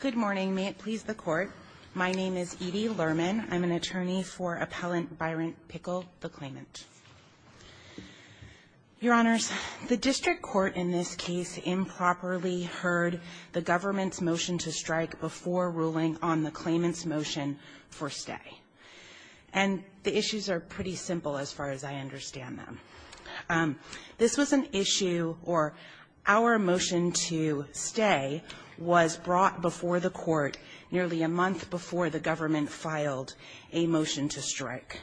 Good morning. May it please the Court. My name is Edie Lerman. I'm an attorney for Appellant Byron Pickle, the claimant. Your Honors, the district court in this case improperly heard the government's motion to strike before ruling on the claimant's motion for stay. And the issues are pretty simple as far as I understand them. This was an issue, or our motion to stay was brought before the Court nearly a month before the government filed a motion to strike.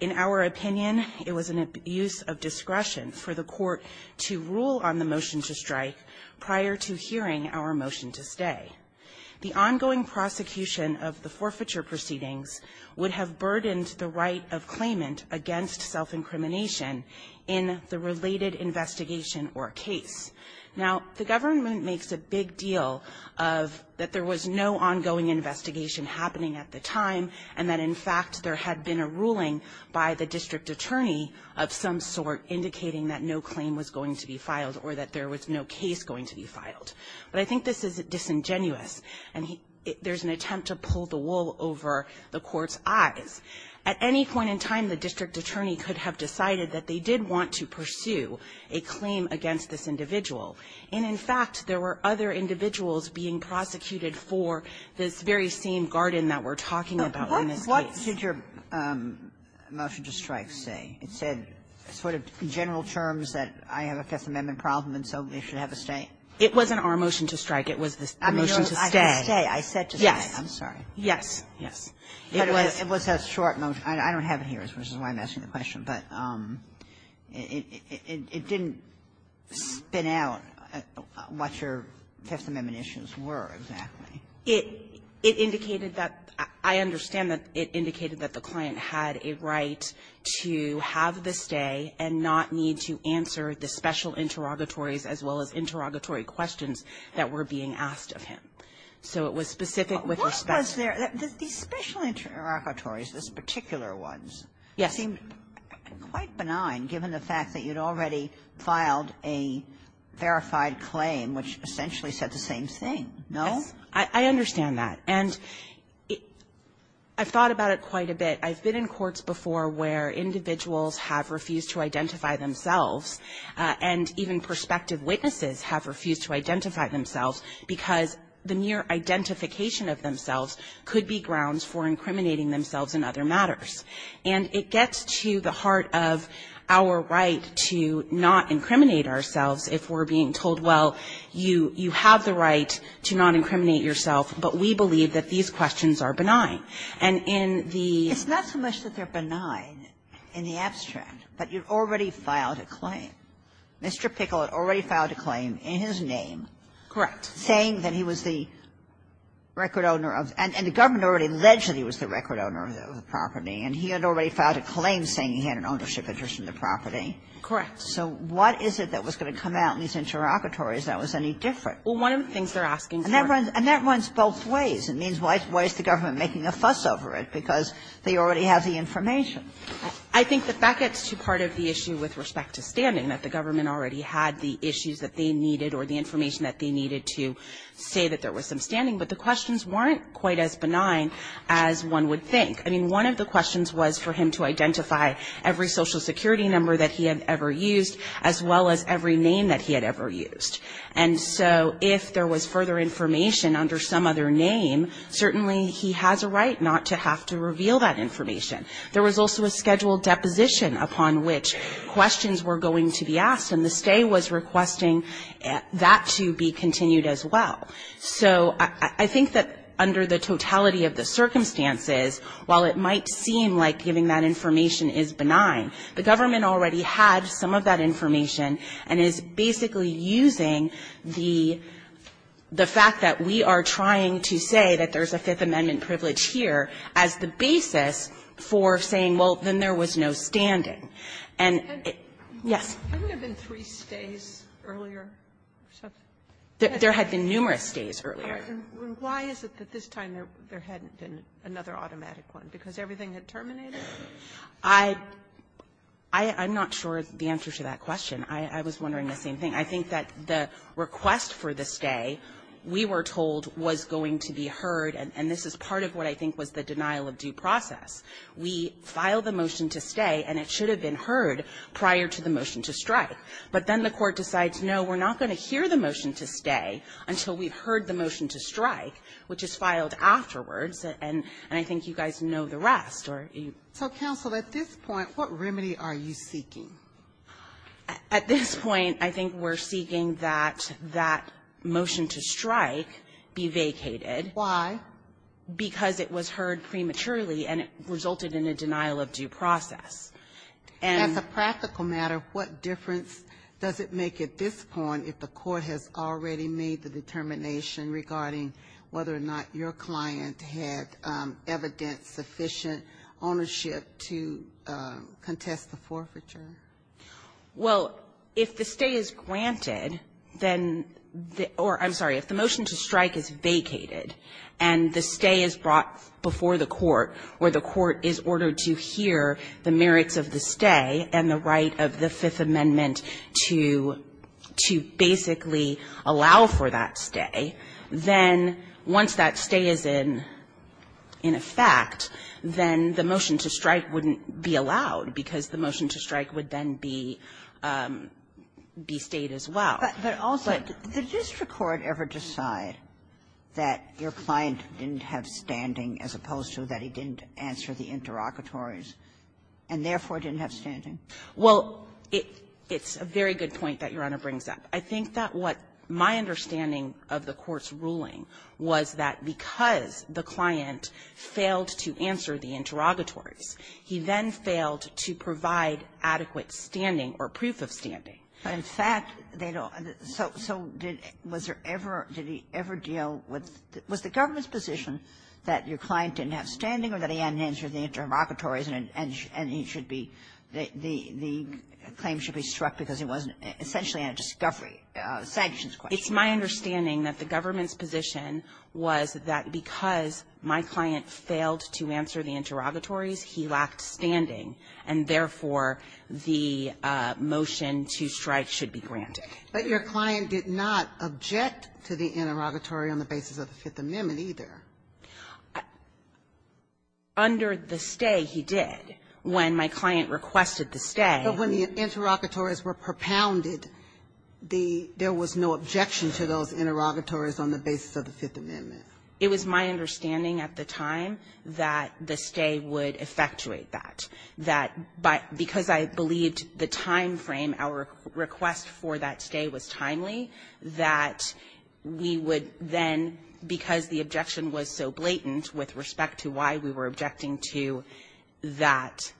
In our opinion, it was an abuse of discretion for the Court to rule on the motion to strike prior to hearing our motion to stay. The ongoing prosecution of the forfeiture proceedings would have burdened the right of claimant against self-incrimination in the related investigation or case. Now, the government makes a big deal of that there was no ongoing investigation happening at the time, and that, in fact, there had been a ruling by the district attorney of some sort indicating that no claim was going to be filed or that there was no case going to be filed. But I think this is disingenuous, and there's an attempt to pull the wool over the Court's eyes. At any point in time, the district attorney could have decided that they did want to pursue a claim against this individual. And, in fact, there were other individuals being prosecuted for this very same garden that we're talking about in this case. Sotomayor, what did your motion to strike say? It said sort of general terms that I have a Fifth Amendment problem, and so they should have a stay? It wasn't our motion to strike. It was the motion to stay. I said to stay. Yes. I'm sorry. Yes. Yes. It was a short motion. I don't have it here, which is why I'm asking the question, but it didn't spin out what your Fifth Amendment issues were exactly. It indicated that the client had a right to have the stay and not need to answer the special interrogatories as well as interrogatory questions that were being asked of him. So it was specific with respect to the special interrogatories, this particular ones. Yes. It seemed quite benign given the fact that you'd already filed a verified claim, which essentially said the same thing, no? I understand that. And I've thought about it quite a bit. I've been in courts before where individuals have refused to identify themselves, and even prospective witnesses have refused to identify themselves because the mere identification of themselves could be grounds for incriminating themselves in other matters. And it gets to the heart of our right to not incriminate ourselves if we're being told, well, you have the right to not incriminate yourself, but we believe that these questions are benign. And in the ---- But you've already filed a claim. Mr. Pickle had already filed a claim in his name saying that he was the record owner of the property, and the government had already alleged that he was the record owner of the property. And he had already filed a claim saying he had an ownership interest in the property. Correct. So what is it that was going to come out in these interrogatories that was any different? Well, one of the things they're asking for ---- And that runs both ways. It means why is the government making a fuss over it? Because they already have the information. I think the fact that it's too part of the issue with respect to standing, that the government already had the issues that they needed or the information that they needed to say that there was some standing, but the questions weren't quite as benign as one would think. I mean, one of the questions was for him to identify every Social Security number that he had ever used, as well as every name that he had ever used. And so if there was further information under some other name, certainly he has a right not to have to reveal that information. There was also a scheduled deposition upon which questions were going to be asked, and the stay was requesting that to be continued as well. So I think that under the totality of the circumstances, while it might seem like giving that information is benign, the government already had some of that information and is basically using the fact that we are trying to say that there's a Fifth Amendment privilege here as the basis for saying, well, then there was no standing. And yes. Haven't there been three stays earlier or something? There had been numerous stays earlier. Why is it that this time there hadn't been another automatic one? Because everything had terminated? I'm not sure the answer to that question. I was wondering the same thing. I think that the request for the stay, we were told, was going to be heard, and this is part of what I think was the denial of due process. We filed the motion to stay, and it should have been heard prior to the motion to strike. But then the Court decides, no, we're not going to hear the motion to stay until we've heard the motion to strike, which is filed afterwards, and I think you guys know the rest. Or you don't. So, counsel, at this point, what remedy are you seeking? At this point, I think we're seeking that that motion to strike be vacated. Why? Because it was heard prematurely, and it resulted in a denial of due process. And the practical matter, what difference does it make at this point if the Court has already made the determination regarding whether or not your client had evidence of sufficient ownership to contest the forfeiture? Well, if the stay is granted, then the or, I'm sorry, if the motion to strike is vacated and the stay is brought before the Court where the Court is ordered to hear the merits of the stay and the right of the Fifth Amendment to basically allow for that stay, then once that stay is in effect, then the motion to strike wouldn't be allowed, because the motion to strike would then be stayed as well. But also, did the district court ever decide that your client didn't have standing as opposed to that he didn't answer the interlocutories and therefore didn't have standing? Well, it's a very good point that Your Honor brings up. I think that what my understanding of the Court's ruling was that because the client failed to answer the interrogatories, he then failed to provide adequate standing or proof of standing. In fact, they don't. So did he ever deal with the government's position that your client didn't have standing or that he hadn't answered the interrogatories and he should be, the claim should be struck because he wasn't essentially on a discovery, a sanctions question? It's my understanding that the government's position was that because my client failed to answer the interrogatories, he lacked standing, and therefore the motion to strike should be granted. But your client did not object to the interrogatory on the basis of the Fifth Amendment either. Under the stay, he did. When my client requested the stay. But when the interrogatories were propounded, there was no objection to those interrogatories on the basis of the Fifth Amendment. It was my understanding at the time that the stay would effectuate that, that because I believed the timeframe, our request for that stay was timely, that we would then, because the objection was so blatant with respect to why we were objecting to that,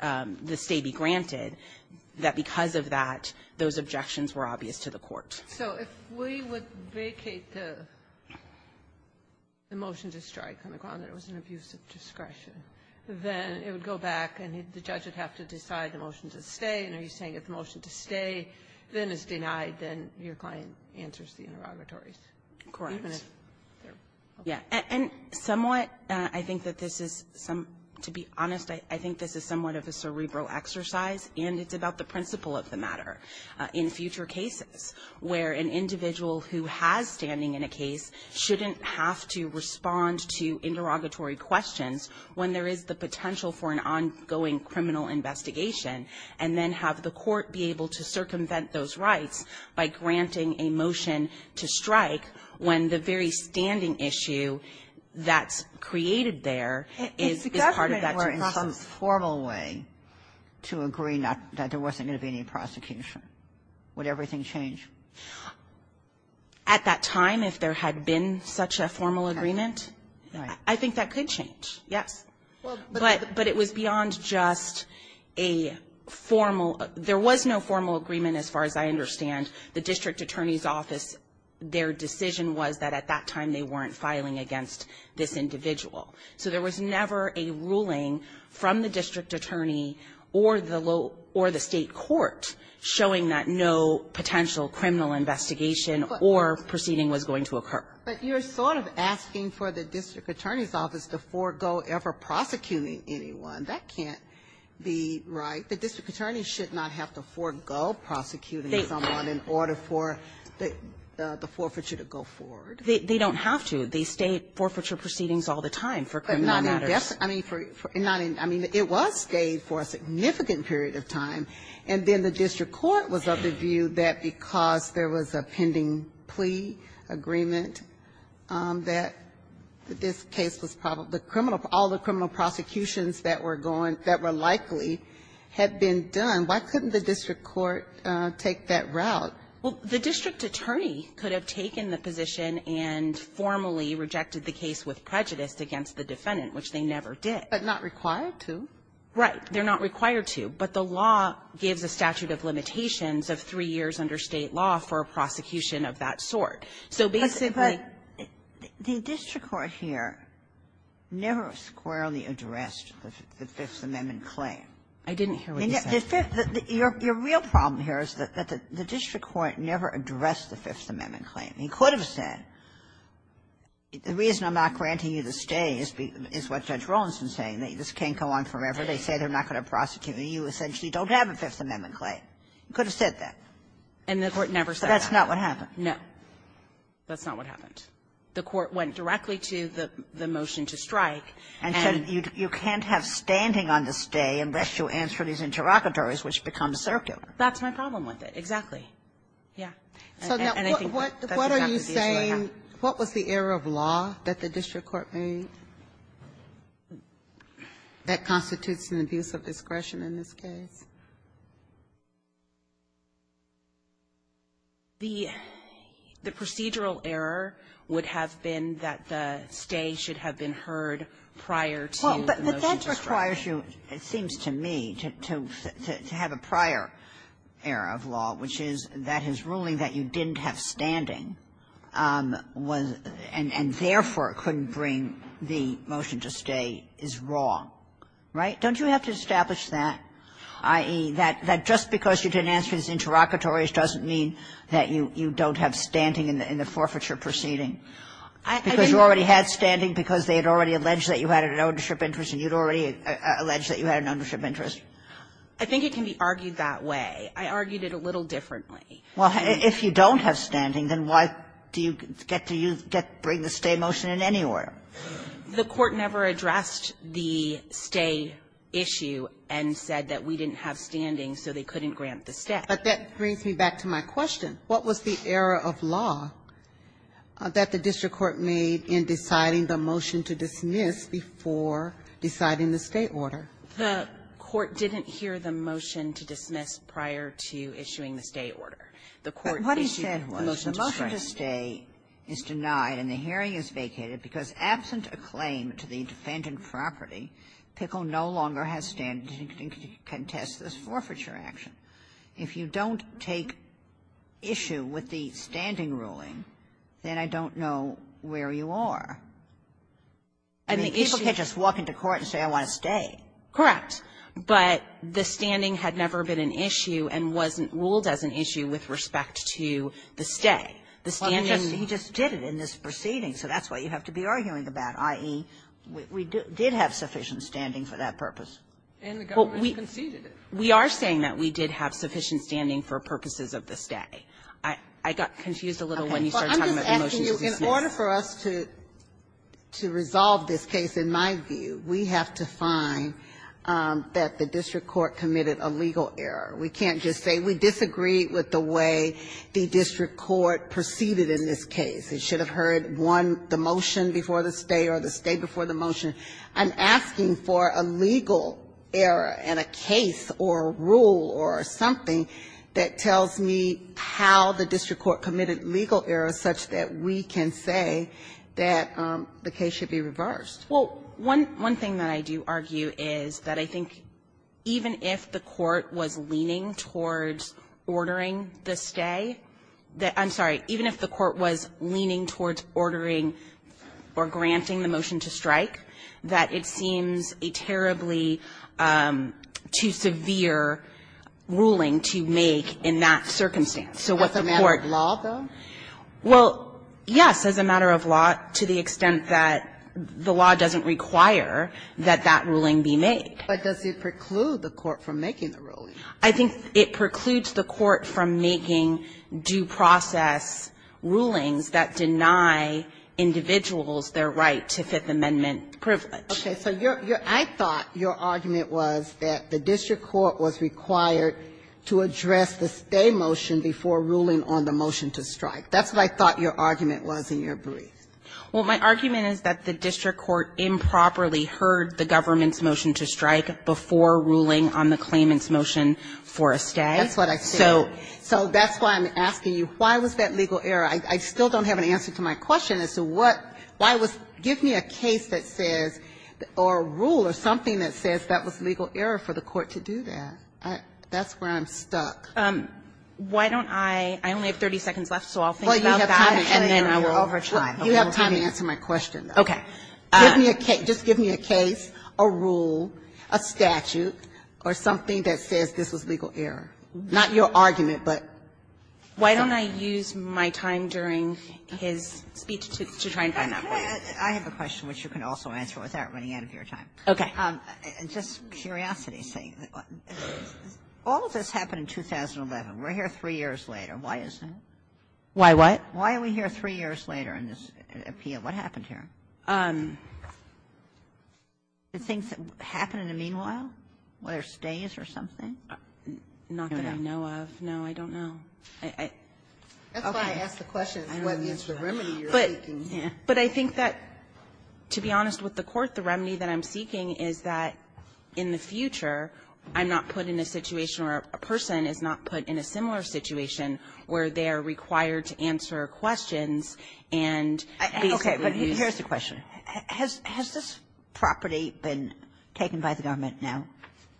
that the stay be granted, that because of that, those objections were obvious to the court. So if we would vacate the motion to strike on the grounds that it was an abuse of discretion, then it would go back and the judge would have to decide the motion to stay, and are you saying if the motion to stay then is denied, then your client answers the interrogatories? Correct. Even if they're okay. Yeah, and somewhat, I think that this is some, to be honest, I think this is somewhat of a cerebral exercise, and it's about the principle of the matter. In future cases where an individual who has standing in a case shouldn't have to respond to interrogatory questions when there is the potential for an ongoing criminal investigation, and then have the court be able to circumvent those rights by granting a motion to strike when the very standing issue that's created there is part of that process. If the government were in some formal way to agree that there wasn't going to be any prosecution, would everything change? At that time, if there had been such a formal agreement, I think that could change, yes. But it was beyond just a formal – there was no formal agreement as far as I understand. The district attorney's office, their decision was that at that time they weren't filing against this individual. So there was never a ruling from the district attorney or the state court showing that no potential criminal investigation or proceeding was going to occur. But you're sort of asking for the district attorney's office to forego ever prosecuting anyone. That can't be right. The district attorney should not have to forego prosecuting someone. It's not in order for the forfeiture to go forward. They don't have to. The state forfeiture proceedings all the time for criminal matters. I mean, for – I mean, it was stayed for a significant period of time. And then the district court was of the view that because there was a pending plea agreement that this case was probably – the criminal – all the criminal prosecutions that were going – that were likely had been done, why couldn't the district court take that route? Well, the district attorney could have taken the position and formally rejected the case with prejudice against the defendant, which they never did. But not required to. Right. They're not required to. But the law gives a statute of limitations of three years under State law for a prosecution of that sort. So basically – But the district court here never squarely addressed the Fifth Amendment claim. I didn't hear what you said. Your real problem here is that the district court never addressed the Fifth Amendment claim. He could have said, the reason I'm not granting you the stay is what Judge Rolandson is saying, that this can't go on forever. They say they're not going to prosecute me. You essentially don't have a Fifth Amendment claim. He could have said that. And the court never said that. That's not what happened. No. That's not what happened. The court went directly to the motion to strike and – You can't have standing on the stay unless you answer these interrogatories, which become circular. That's my problem with it. Exactly. Yeah. And I think that's exactly the issue I have. What are you saying – what was the error of law that the district court made that constitutes an abuse of discretion in this case? The procedural error would have been that the stay should have been heard prior to the motion to strike. Well, but that requires you, it seems to me, to have a prior error of law, which is that his ruling that you didn't have standing was – and therefore couldn't bring the motion to stay is wrong, right? Don't you have to establish that, i.e., that just because you didn't answer these interrogatories doesn't mean that you don't have standing in the forfeiture proceeding? I mean – You don't have standing because they had already alleged that you had an ownership interest and you had already alleged that you had an ownership interest? I think it can be argued that way. I argued it a little differently. Well, if you don't have standing, then why do you get to use – bring the stay motion in anywhere? The court never addressed the stay issue and said that we didn't have standing, so they couldn't grant the stay. But that brings me back to my question. What was the error of law that the district court made in deciding the motion to dismiss before deciding the stay order? The court didn't hear the motion to dismiss prior to issuing the stay order. The court issued the motion to bring. But what he said was the motion to stay is denied and the hearing is vacated because absent a claim to the defendant property, Pickle no longer has standing to contest this forfeiture action. If you don't take issue with the standing ruling, then I don't know where you are. I mean, people can't just walk into court and say, I want to stay. Correct. But the standing had never been an issue and wasn't ruled as an issue with respect to the stay. The standing – Well, I mean, he just did it in this proceeding, so that's what you have to be arguing about, i.e., we did have sufficient standing for that purpose. And the government conceded it. We are saying that we did have sufficient standing for purposes of the stay. I got confused a little when you started talking about the motion to dismiss. Well, I'm just asking you, in order for us to resolve this case, in my view, we have to find that the district court committed a legal error. We can't just say we disagree with the way the district court proceeded in this case. It should have heard, one, the motion before the stay or the stay before the motion. I'm asking for a legal error in a case or a rule or something that tells me how the district court committed legal errors such that we can say that the case should be reversed. Well, one thing that I do argue is that I think even if the court was leaning towards ordering the stay, I'm sorry, even if the court was leaning towards ordering or granting the motion to strike, that it seems a terribly too severe ruling to make in that circumstance. So what the court ---- As a matter of law, though? Well, yes, as a matter of law, to the extent that the law doesn't require that that ruling be made. But does it preclude the court from making the ruling? I think it precludes the court from making due process rulings that deny individuals their right to Fifth Amendment privilege. Okay. So your ---- I thought your argument was that the district court was required to address the stay motion before ruling on the motion to strike. That's what I thought your argument was in your brief. Well, my argument is that the district court improperly heard the government's motion to strike before ruling on the claimant's motion for a stay. That's what I said. So that's why I'm asking you, why was that legal error? I still don't have an answer to my question as to what ---- why was ---- give me a case that says or a rule or something that says that was legal error for the court to do that. That's where I'm stuck. Why don't I ---- I only have 30 seconds left, so I'll think about that and then I will ---- Well, you have time to answer my question, though. Okay. Give me a case, just give me a case, a rule, a statute, or something that says this was legal error. Not your argument, but ---- Why don't I use my time during his speech to try and find that for you? I have a question which you can also answer without running out of your time. Okay. Just curiosity's sake, all of this happened in 2011. We're here three years later. Why is that? Why what? Why are we here three years later in this appeal? What happened here? Did things happen in the meanwhile, whether stays or something? Not that I know of. No, I don't know. I ---- That's why I asked the question, what is the remedy you're seeking here? But I think that, to be honest with the court, the remedy that I'm seeking is that in the future, I'm not put in a situation where a person is not put in a similar situation where they are required to answer questions and basically use ---- I have a question. Has this property been taken by the government now?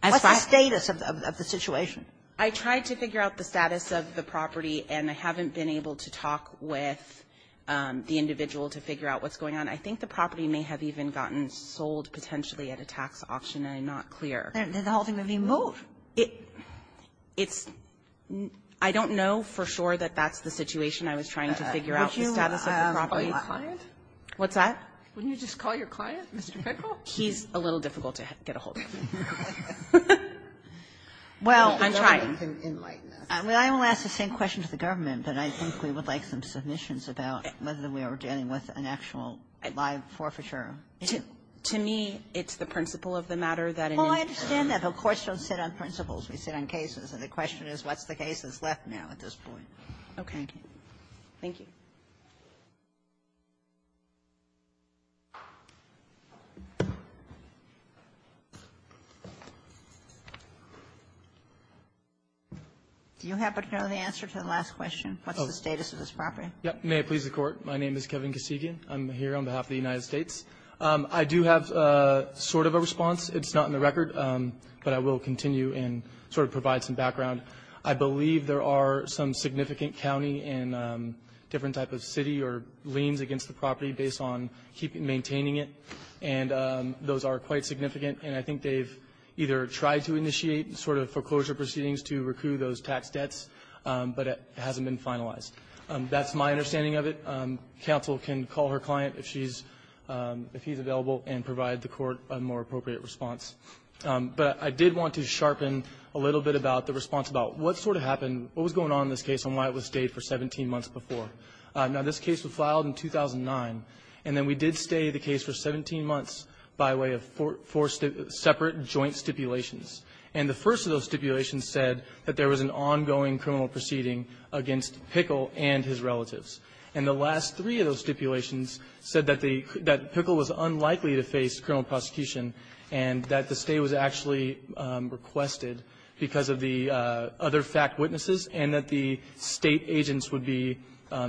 What's the status of the situation? I tried to figure out the status of the property, and I haven't been able to talk with the individual to figure out what's going on. I think the property may have even gotten sold potentially at a tax auction. I'm not clear. Then the whole thing would be moved. It's ---- I don't know for sure that that's the situation I was trying to figure out, the status of the property. What's that? Wouldn't you just call your client, Mr. Pinnacle? He's a little difficult to get a hold of. Well, I'm trying. Well, I will ask the same question to the government, but I think we would like some submissions about whether we are dealing with an actual live forfeiture. To me, it's the principle of the matter that ---- Well, I understand that. The courts don't sit on principles. We sit on cases. And the question is, what's the case that's left now at this point? Okay. Thank you. Do you happen to know the answer to the last question, what's the status of this property? May it please the Court, my name is Kevin Kosivian. I'm here on behalf of the United States. I do have sort of a response. It's not in the record, but I will continue and sort of provide some background. I believe there are some significant county and different type of city or liens against the property based on maintaining it, and those are quite significant. And I think they've either tried to initiate sort of foreclosure proceedings to recoup those tax debts, but it hasn't been finalized. That's my understanding of it. Counsel can call her client if she's ---- if he's available and provide the Court a more appropriate response. But I did want to sharpen a little bit about the response about what sort of happened ---- what was going on in this case and why it was stayed for 17 months before. Now, this case was filed in 2009, and then we did stay the case for 17 months by way of four separate joint stipulations. And the first of those stipulations said that there was an ongoing criminal proceeding against Pickle and his relatives. And the last three of those stipulations said that the ---- that Pickle was unlikely to face criminal prosecution, and that the stay was actually requested because of the other fact witnesses, and that the State agents would be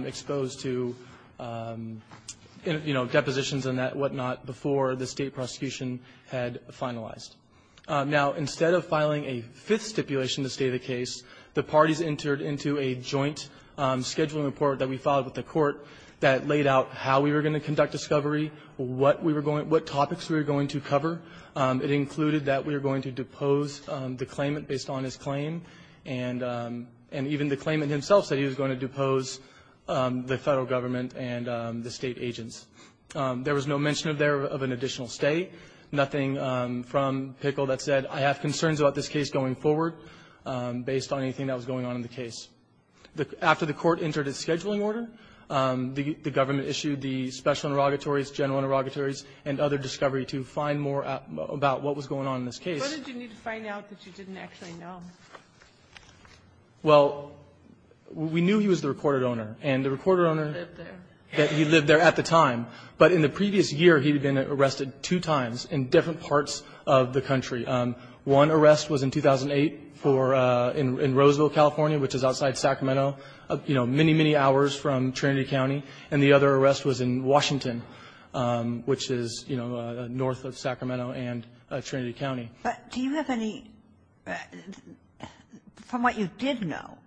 exposed to, you know, depositions and that whatnot before the State prosecution had finalized. Now, instead of filing a fifth stipulation to stay the case, the parties entered into a joint scheduling report that we filed with the Court that laid out how we were going to conduct discovery, what we were going to ---- what topics we were going to cover. It included that we were going to depose the claimant based on his claim, and even the claimant himself said he was going to depose the Federal government and the State agents. There was no mention of an additional stay, nothing from Pickle that said, I have concerns about this case going forward, based on anything that was going on in the case. After the Court entered its scheduling order, the government issued the special inauguratories, general inauguratories, and other discovery to find more about what was going on in this case. Ginsburg. What did you need to find out that you didn't actually know? Well, we knew he was the recorded owner, and the recorded owner lived there. He lived there at the time. But in the previous year, he had been arrested two times in different parts of the country. One arrest was in 2008 for ---- in Roseville, California, which is outside Sacramento, you know, many, many hours from Trinity County. And the other arrest was in Washington, which is, you know, north of Sacramento and Trinity County. But do you have any ---- from what you did know,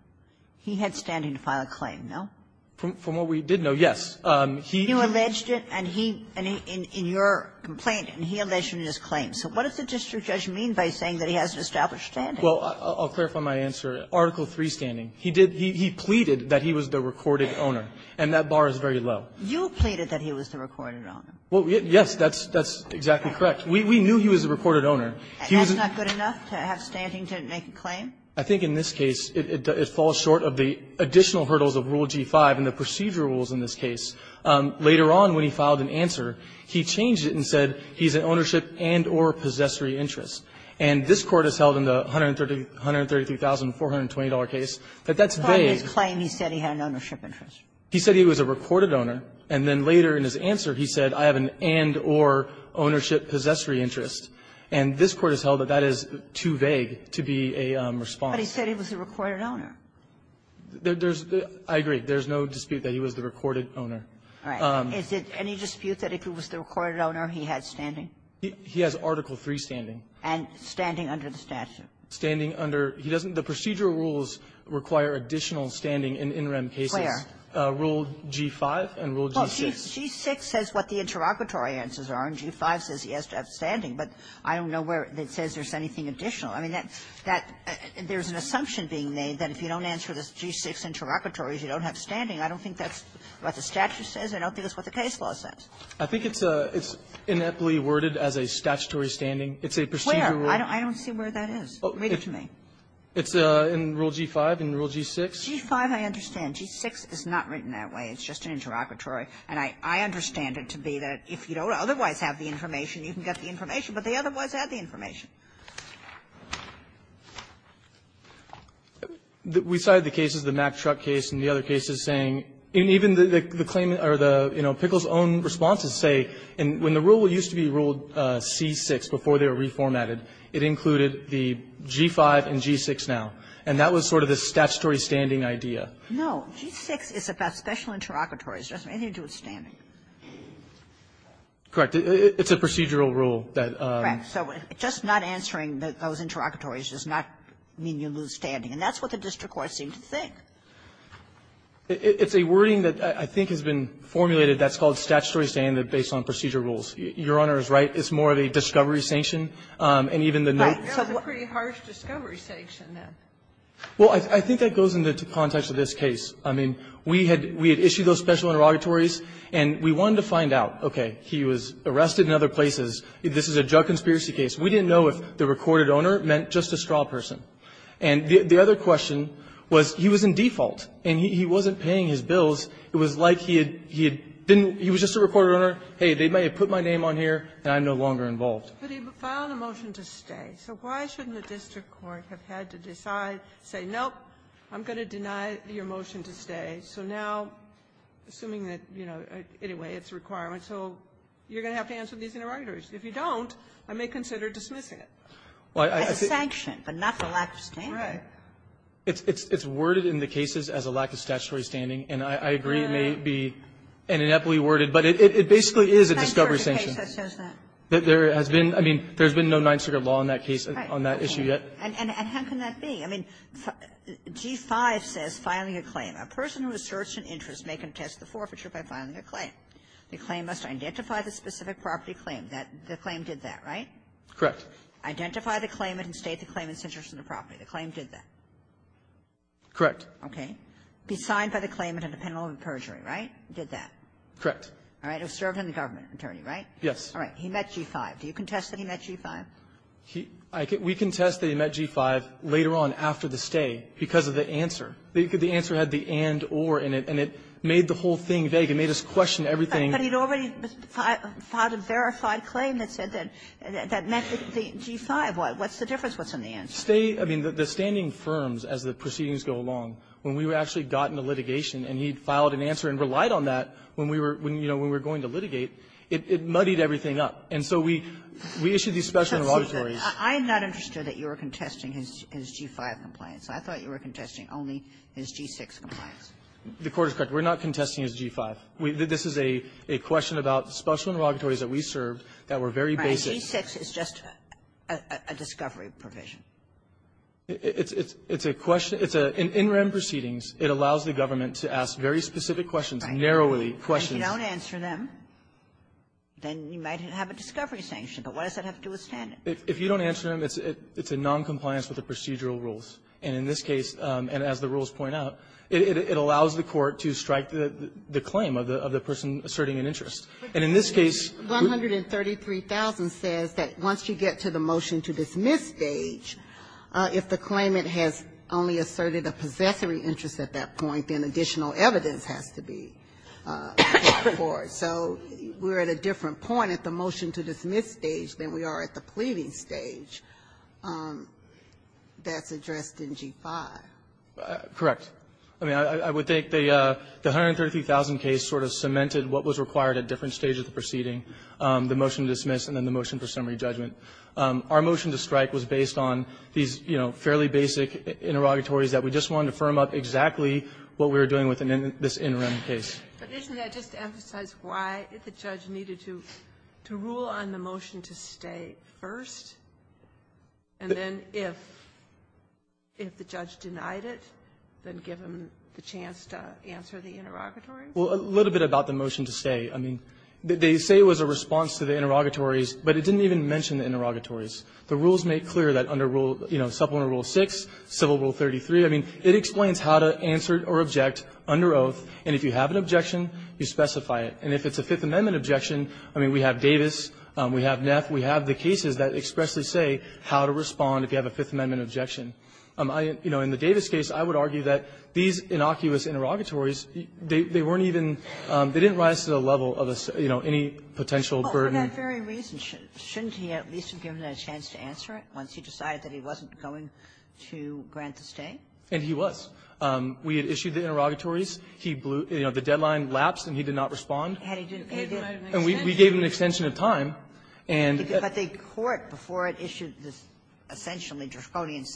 he had standing to file a claim, no? From what we did know, yes. He ---- You alleged it, and he ---- and in your complaint, and he alleged it in his claim. So what does the district judge mean by saying that he has an established standing? Well, I'll clarify my answer. Article III standing. He did ---- he pleaded that he was the recorded owner, and that bar is very low. You pleaded that he was the recorded owner. Well, yes, that's ---- that's exactly correct. We knew he was the recorded owner. And that's not good enough to have standing to make a claim? I think in this case, it falls short of the additional hurdles of Rule G-5 and the procedure rules in this case. Later on, when he filed an answer, he changed it and said he's an ownership and or possessory interest. And this Court has held in the $133,420 case that that's vague. But in his claim, he said he had an ownership interest. He said he was a recorded owner, and then later in his answer, he said, I have an and or ownership possessory interest. And this Court has held that that is too vague to be a response. But he said he was the recorded owner. There's the ---- I agree. There's no dispute that he was the recorded owner. All right. Is it any dispute that if he was the recorded owner, he had standing? He has Article III standing. And standing under the statute? Standing under ---- he doesn't ---- the procedural rules require additional standing in in-rem cases. Where? Rule G-5 and Rule G-6. Well, G-6 says what the interrogatory answers are, and G-5 says he has to have standing. But I don't know where it says there's anything additional. I mean, that ---- there's an assumption being made that if you don't answer the G-6 interrogatory, you don't have standing. I don't think that's what the statute says. I don't think that's what the case law says. I think it's a ---- it's ineptly worded as a statutory standing. It's a procedural rule. Where? I don't see where that is. Read it to me. It's in Rule G-5 and Rule G-6. G-5, I understand. G-6 is not written that way. It's just an interrogatory. And I understand it to be that if you don't otherwise have the information, you can get the information, but they otherwise have the information. We cited the cases, the Mack truck case and the other cases, saying even the claim or the, you know, Pickle's own responses say when the rule used to be ruled C-6 before they were reformatted, it included the G-5 and G-6 now. And that was sort of the statutory standing idea. No. G-6 is about special interrogatories. It doesn't have anything to do with standing. Correct. It's a procedural rule that ---- Correct. So just not answering those interrogatories does not mean you lose standing. And that's what the district court seemed to think. It's a wording that I think has been formulated that's called statutory standing based on procedure rules. Your Honor is right. It's more of a discovery sanction. And even the note ---- But that was a pretty harsh discovery sanction, then. Well, I think that goes into the context of this case. I mean, we had issued those special interrogatories, and we wanted to find out, okay, he was arrested in other places. This is a drug conspiracy case. We didn't know if the recorded owner meant just a straw person. And the other question was he was in default, and he wasn't paying his bills. It was like he had been ---- he was just a recorded owner. Hey, they may have put my name on here, and I'm no longer involved. But he filed a motion to stay. So why shouldn't the district court have had to decide, say, nope, I'm going to deny your motion to stay. So now, assuming that, you know, anyway, it's a requirement. So you're going to have to answer these interrogatories. If you don't, I may consider dismissing it. As a sanction, but not for lack of standing. Right. It's worded in the cases as a lack of statutory standing. And I agree it may be inadequately worded, but it basically is a discovery sanction. There has been, I mean, there's been no Ninth Circuit law on that case, on that issue yet. And how can that be? I mean, G-5 says filing a claim, a person who asserts an interest may contest the forfeiture by filing a claim. The claim must identify the specific property claim. The claim did that, right? Correct. Identify the claim and state the claimant's interest in the property. The claim did that. Correct. Be signed by the claimant on a penalty of perjury, right? Did that. Correct. All right. It was served on the government attorney, right? Yes. All right. He met G-5. Do you contest that he met G-5? He we contest that he met G-5 later on after the stay because of the answer. The answer had the and, or in it, and it made the whole thing vague. It made us question everything. But he had already filed a verified claim that said that, that met the G-5. What's the difference? What's in the answer? Stay. I mean, the standing firms, as the proceedings go along, when we had actually gotten the litigation and he had filed an answer and relied on that when we were, you know, when we were going to litigate, it muddied everything up. And so we issued these special auditories. I'm not interested that you were contesting his G-5 compliance. I thought you were contesting only his G-6 compliance. The Court is correct. We're not contesting his G-5. This is a question about special inauguratories that we served that were very basic. G-6 is just a discovery provision. It's a question. It's an in-rem proceedings. It allows the government to ask very specific questions, narrowly questions. If you don't answer them, then you might have a discovery sanction. But what does that have to do with standing? If you don't answer them, it's a noncompliance with the procedural rules. And in this case, and as the rules point out, it allows the Court to strike the claim of the person asserting an interest. And in this case, who --? 133,000 says that, once you get to the motion-to-dismiss stage, if the claimant has only asserted a possessory interest at that point, then additional evidence has to be brought fort. So we're at a different point at the motion-to-dismiss stage than we are at the pleading stage. That's addressed in G-5. Correct. I mean, I would think the 133,000 case sort of cemented what was required at different stages of the proceeding, the motion-to-dismiss and then the motion for summary judgment. Our motion-to-strike was based on these, you know, fairly basic interrogatories that we just wanted to firm up exactly what we were doing within this interim case. But isn't that just to emphasize why the judge needed to rule on the motion to stay first, and then if the judge denied it, then give him the chance to answer the interrogatory? Well, a little bit about the motion to stay. I mean, they say it was a response to the interrogatories, but it didn't even mention the interrogatories. The rules make clear that under rule, you know, Supplemental Rule 6, Civil Rule 33, I mean, it explains how to answer or object under oath, and if you have an objection, you specify it. And if it's a Fifth Amendment objection, I mean, we have Davis, we have Neff, we have the cases that expressly say how to respond if you have a Fifth Amendment objection. You know, in the Davis case, I would argue that these innocuous interrogatories, they weren't even, they didn't rise to the level of, you know, any potential burden. Well, for that very reason, shouldn't he at least have given a chance to answer it once he decided that he wasn't going to grant the stay? And he was. We had issued the interrogatories. He blew, you know, the deadline lapsed, and he did not respond. And he didn't extend it. And we gave him an extension of time. And the Court, before it issued this essentially Droskodian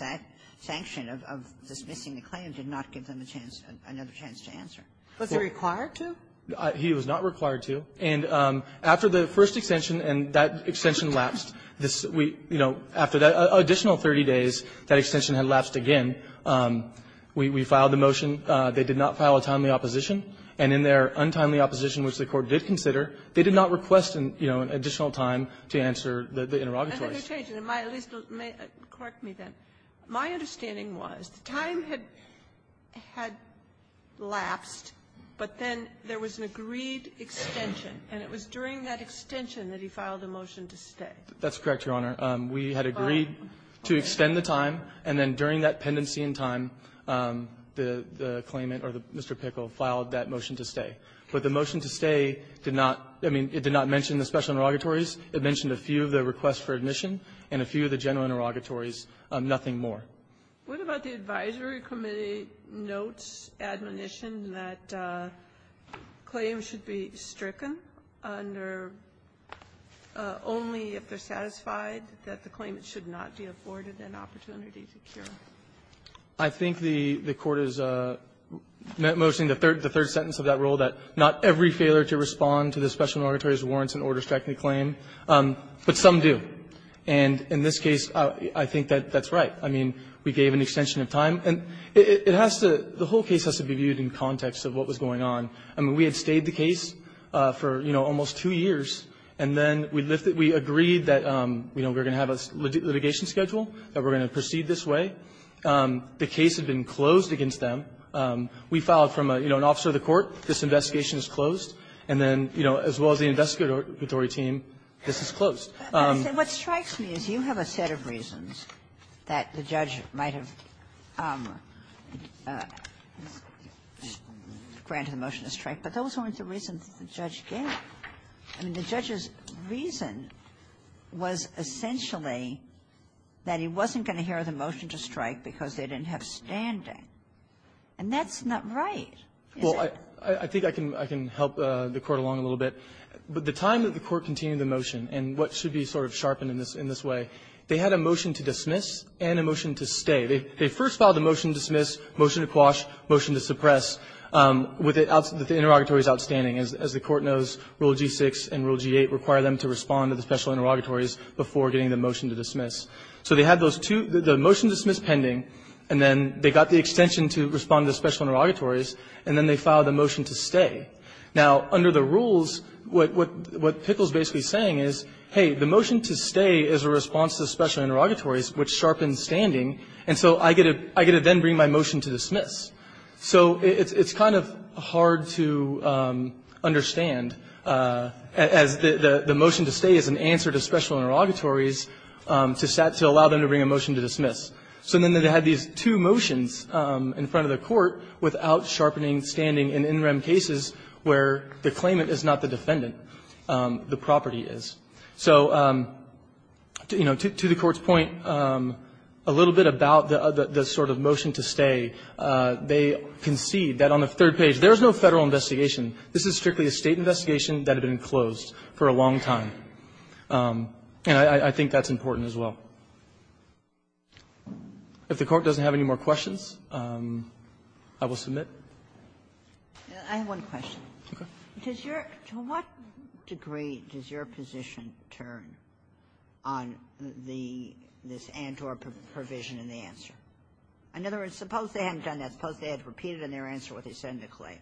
sanction of dismissing the claim, did not give him a chance, another chance to answer. Was he required to? He was not required to. And after the first extension, and that extension lapsed, this, you know, after that additional 30 days, that extension had lapsed again. We filed the motion. They did not file a timely opposition. And in their untimely opposition, which the Court did consider, they did not request, you know, an additional time to answer the interrogatories. And then they changed it. At least, correct me, then. My understanding was the time had lapsed, but then there was an agreed extension. And it was during that extension that he filed a motion to stay. That's correct, Your Honor. We had agreed to extend the time. And then during that pendency in time, the claimant or Mr. Pickle filed that motion to stay. But the motion to stay did not – I mean, it did not mention the special interrogatories. It mentioned a few of the requests for admission and a few of the general interrogatories, nothing more. What about the advisory committee notes, admonition, that claims should be stricken under only if they're satisfied that the claimant should not be afforded an opportunity to cure? I think the Court is noticing the third sentence of that rule, that not every failure to respond to the special interrogatories warrants an order-striking claim, but some do. And in this case, I think that that's right. I mean, we gave an extension of time. And it has to – the whole case has to be viewed in context of what was going on. I mean, we had stayed the case for, you know, almost two years, and then we lifted – we agreed that, you know, we were going to have a litigation schedule, that we were going to proceed this way. The case had been closed against them. We filed from, you know, an officer of the court. This investigation is closed. And then, you know, as well as the investigatory team, this is closed. Ginsburg. But what strikes me is you have a set of reasons that the judge might have granted the motion to strike, but those weren't the reasons that the judge gave. I mean, the judge's reason was essentially that he wasn't going to hear the motion to strike because they didn't have standing. And that's not right, is it? Well, I think I can help the Court along a little bit. The time that the Court continued the motion, and what should be sort of sharpened in this way, they had a motion to dismiss and a motion to stay. They first filed a motion to dismiss, motion to quash, motion to suppress, with it – as the Court knows, Rule G-6 and Rule G-8 require them to respond to the special interrogatories before getting the motion to dismiss. So they had those two – the motion to dismiss pending, and then they got the extension to respond to the special interrogatories, and then they filed the motion to stay. Now, under the rules, what Pickle is basically saying is, hey, the motion to stay is a response to the special interrogatories, which sharpens standing. And so I get to then bring my motion to dismiss. So it's kind of hard to understand, as the motion to stay is an answer to special interrogatories, to allow them to bring a motion to dismiss. So then they had these two motions in front of the Court without sharpening standing in in rem cases where the claimant is not the defendant, the property is. So, you know, to the Court's point, a little bit about the sort of motion to stay, they concede that on the third page, there is no Federal investigation. This is strictly a State investigation that had been closed for a long time. And I think that's important as well. If the Court doesn't have any more questions, I will submit. I have one question. Okay. Does your – to what degree does your position turn on the – this ANTOR provision in the answer? In other words, suppose they hadn't done that. Suppose they had repeated in their answer what they said in the claim.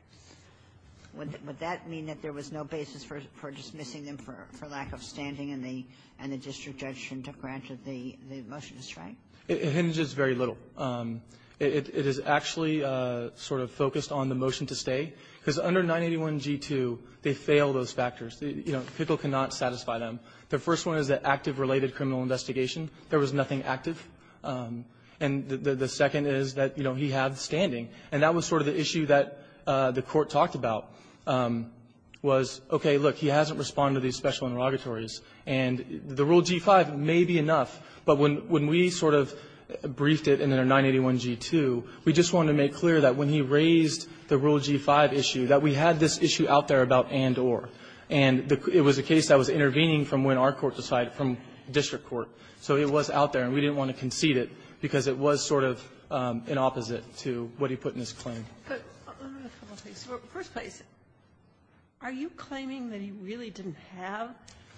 Would that mean that there was no basis for dismissing them for lack of standing and the district judge shouldn't have granted the motion to stay? It hinders very little. It is actually sort of focused on the motion to stay, because under 981g2, they fail those factors. You know, Pickle cannot satisfy them. The first one is the active related criminal investigation. There was nothing active. And the second is that, you know, he had standing. And that was sort of the issue that the Court talked about, was, okay, look, he hasn't responded to these special inrogatories. And the Rule G-5 may be enough, but when we sort of briefed it in their 981g2, we just wanted to make clear that when he raised the Rule G-5 issue, that we had this issue out there about ANTOR. And it was a case that was intervening from when our Court decided, from district court. So it was out there, and we didn't want to concede it, because it was sort of an opposite to what he put in his claim. Kagan, are you claiming that he really didn't have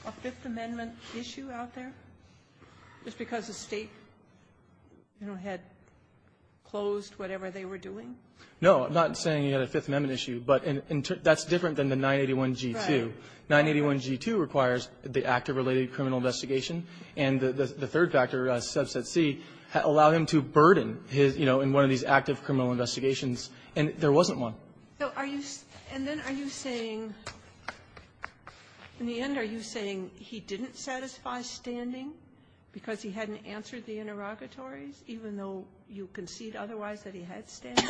a Fifth Amendment issue out there just because the State, you know, had closed whatever they were doing? No. I'm not saying he had a Fifth Amendment issue, but that's different than the 981g2. 981g2 requires the active related criminal investigation. And the third factor, Subset C, allowed him to burden his, you know, in one of these active criminal investigations. And there wasn't one. So are you saying he didn't satisfy standing because he hadn't answered the inrogatories, even though you concede otherwise that he had standing?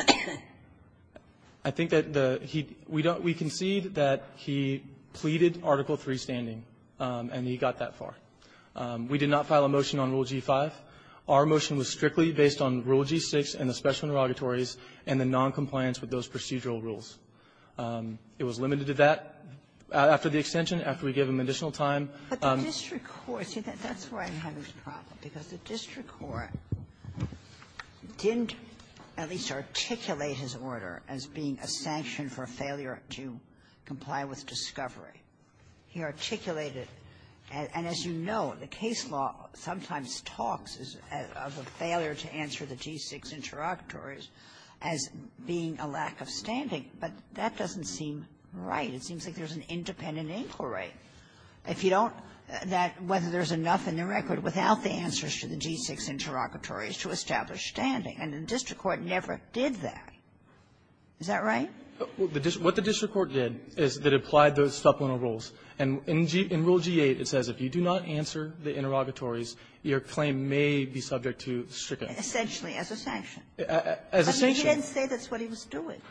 I think that the he we don't we concede that he pleaded Article III standing. And he got that far. We did not file a motion on Rule G-5. Our motion was strictly based on Rule G-6 and the special inrogatories and the noncompliance with those procedural rules. It was limited to that after the extension, after we gave him additional time. But the district court, see, that's where I'm having a problem, because the district court didn't at least articulate his order as being a sanction for failure to comply with discovery. He articulated, and as you know, the case law sometimes talks of a failure to answer the G-6 interrogatories as being a lack of standing. But that doesn't seem right. It seems like there's an independent inquiry. If you don't that whether there's enough in the record without the answers to the G-6 interrogatories to establish standing, and the district court never did that. Is that right? What the district court did is that it applied those supplemental rules. And in Rule G-8, it says if you do not answer the interrogatories, your claim may be subject to stricter. Essentially, as a sanction. As a sanction. But he didn't say that's what he was doing.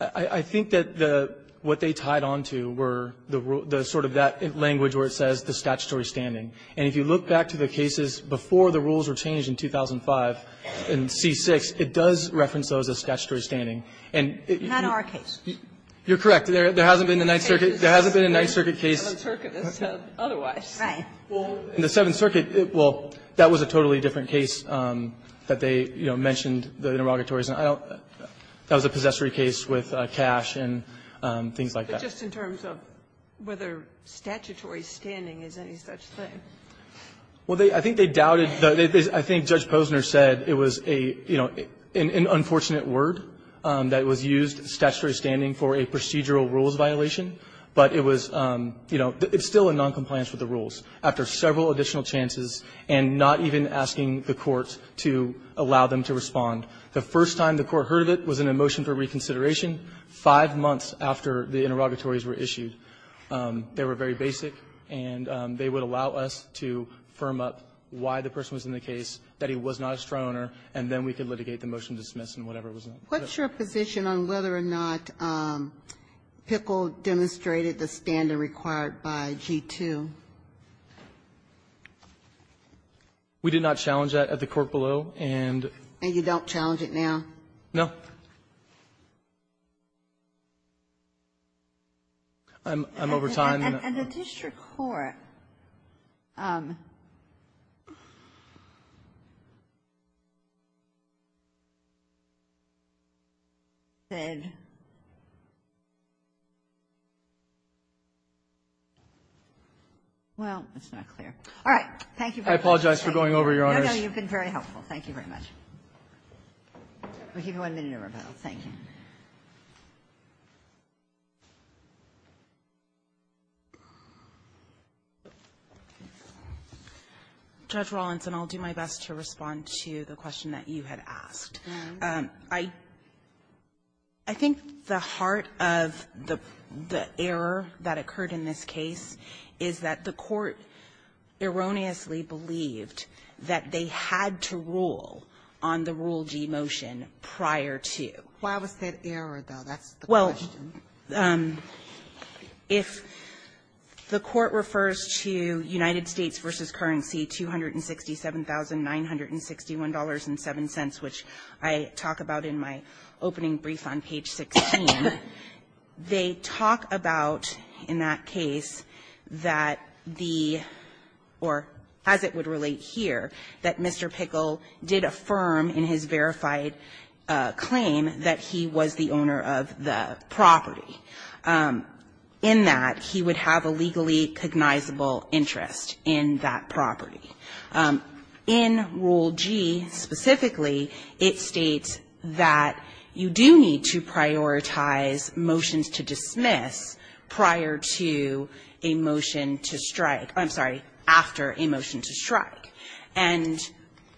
I think that the what they tied on to were the sort of that language where it says the statutory standing. And if you look back to the cases before the rules were changed in 2005 in C-6, it does reference those as statutory standing. And it you're correct. There hasn't been a Ninth Circuit case. In the Seventh Circuit, well, that was a totally different case that they mentioned the interrogatories. That was a possessory case with cash and things like that. But just in terms of whether statutory standing is any such thing. Well, I think they doubted. I think Judge Posner said it was a, you know, an unfortunate word. That it was used, statutory standing, for a procedural rules violation. But it was, you know, it's still in noncompliance with the rules. After several additional chances and not even asking the courts to allow them to respond. The first time the Court heard of it was in a motion for reconsideration five months after the interrogatories were issued. They were very basic, and they would allow us to firm up why the person was in the case, that he was not a straw owner, and then we could litigate the motion to dismiss him, whatever it was. Ginsburg. What's your position on whether or not Pickle demonstrated the standing required by G-2? We did not challenge that at the court below, and you don't challenge it now? No. I'm over time. And the District Court said, well, it's not clear. All right. Thank you. I apologize for going over, Your Honors. No, no. You've been very helpful. Thank you very much. We'll give you one minute to rebuttal. Thank you. Judge Rawlinson, I'll do my best to respond to the question that you had asked. I think the heart of the error that occurred in this case is that the Court erroneously believed that they had to rule on the Rule G motion prior to. Why was that error, though? That's the question. If the Court refers to United States v. Currency $267,961.07, which I talk about in my opening brief on page 16, they talk about, in that case, that the or as it would relate here, that Mr. Pickle did affirm in his verified claim that he was the owner of the property, in that he would have a legally cognizable interest in that property. In Rule G specifically, it states that you do need to prioritize motions to dismiss prior to a motion to strike or, I'm sorry, after a motion to strike, and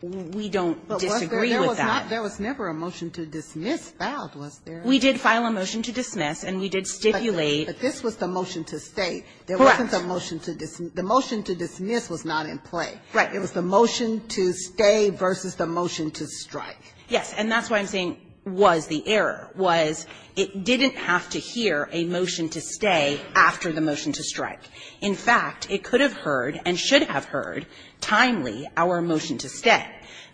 we don't disagree with that. There was never a motion to dismiss that, was there? We did file a motion to dismiss, and we did stipulate that this was the motion to stay. Correct. There wasn't a motion to dismiss. The motion to dismiss was not in play. Right. It was the motion to stay versus the motion to strike. Yes. And that's why I'm saying was the error, was it didn't have to hear a motion to stay after the motion to strike. In fact, it could have heard and should have heard timely our motion to stay.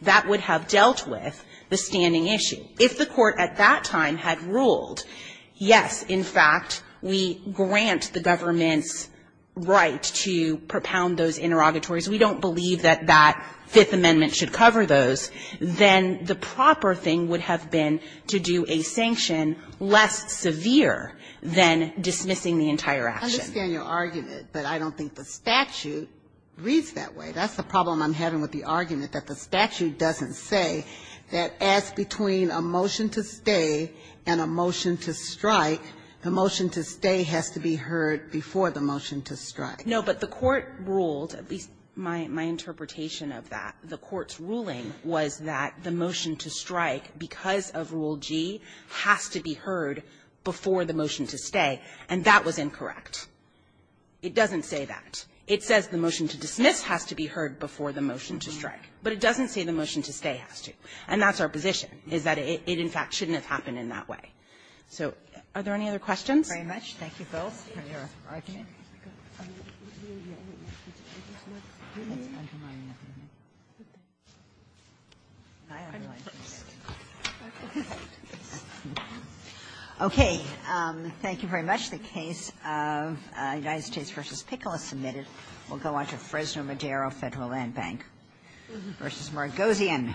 That would have dealt with the standing issue. If the court at that time had ruled, yes, in fact, we grant the government's right to propound those interrogatories, we don't believe that that Fifth Amendment should cover those, then the proper thing would have been to do a sanction less severe than dismissing the entire action. I understand your argument, but I don't think the statute reads that way. That's the problem I'm having with the argument, that the statute doesn't say that as between a motion to stay and a motion to strike, the motion to stay has to be heard before the motion to strike. No, but the court ruled, at least my interpretation of that, the court's ruling was that the motion to strike, because of Rule G, has to be heard before the motion to stay, and that was incorrect. It doesn't say that. It says the motion to dismiss has to be heard before the motion to strike. But it doesn't say the motion to stay has to. And that's our position, is that it, in fact, shouldn't have happened in that way. So are there any other questions? Thank you both for your argument. Okay. Thank you very much. The case of United States v. Pickle is submitted. We'll go on to Fresno Madero Federal Land Bank v. Margosian. Thank you.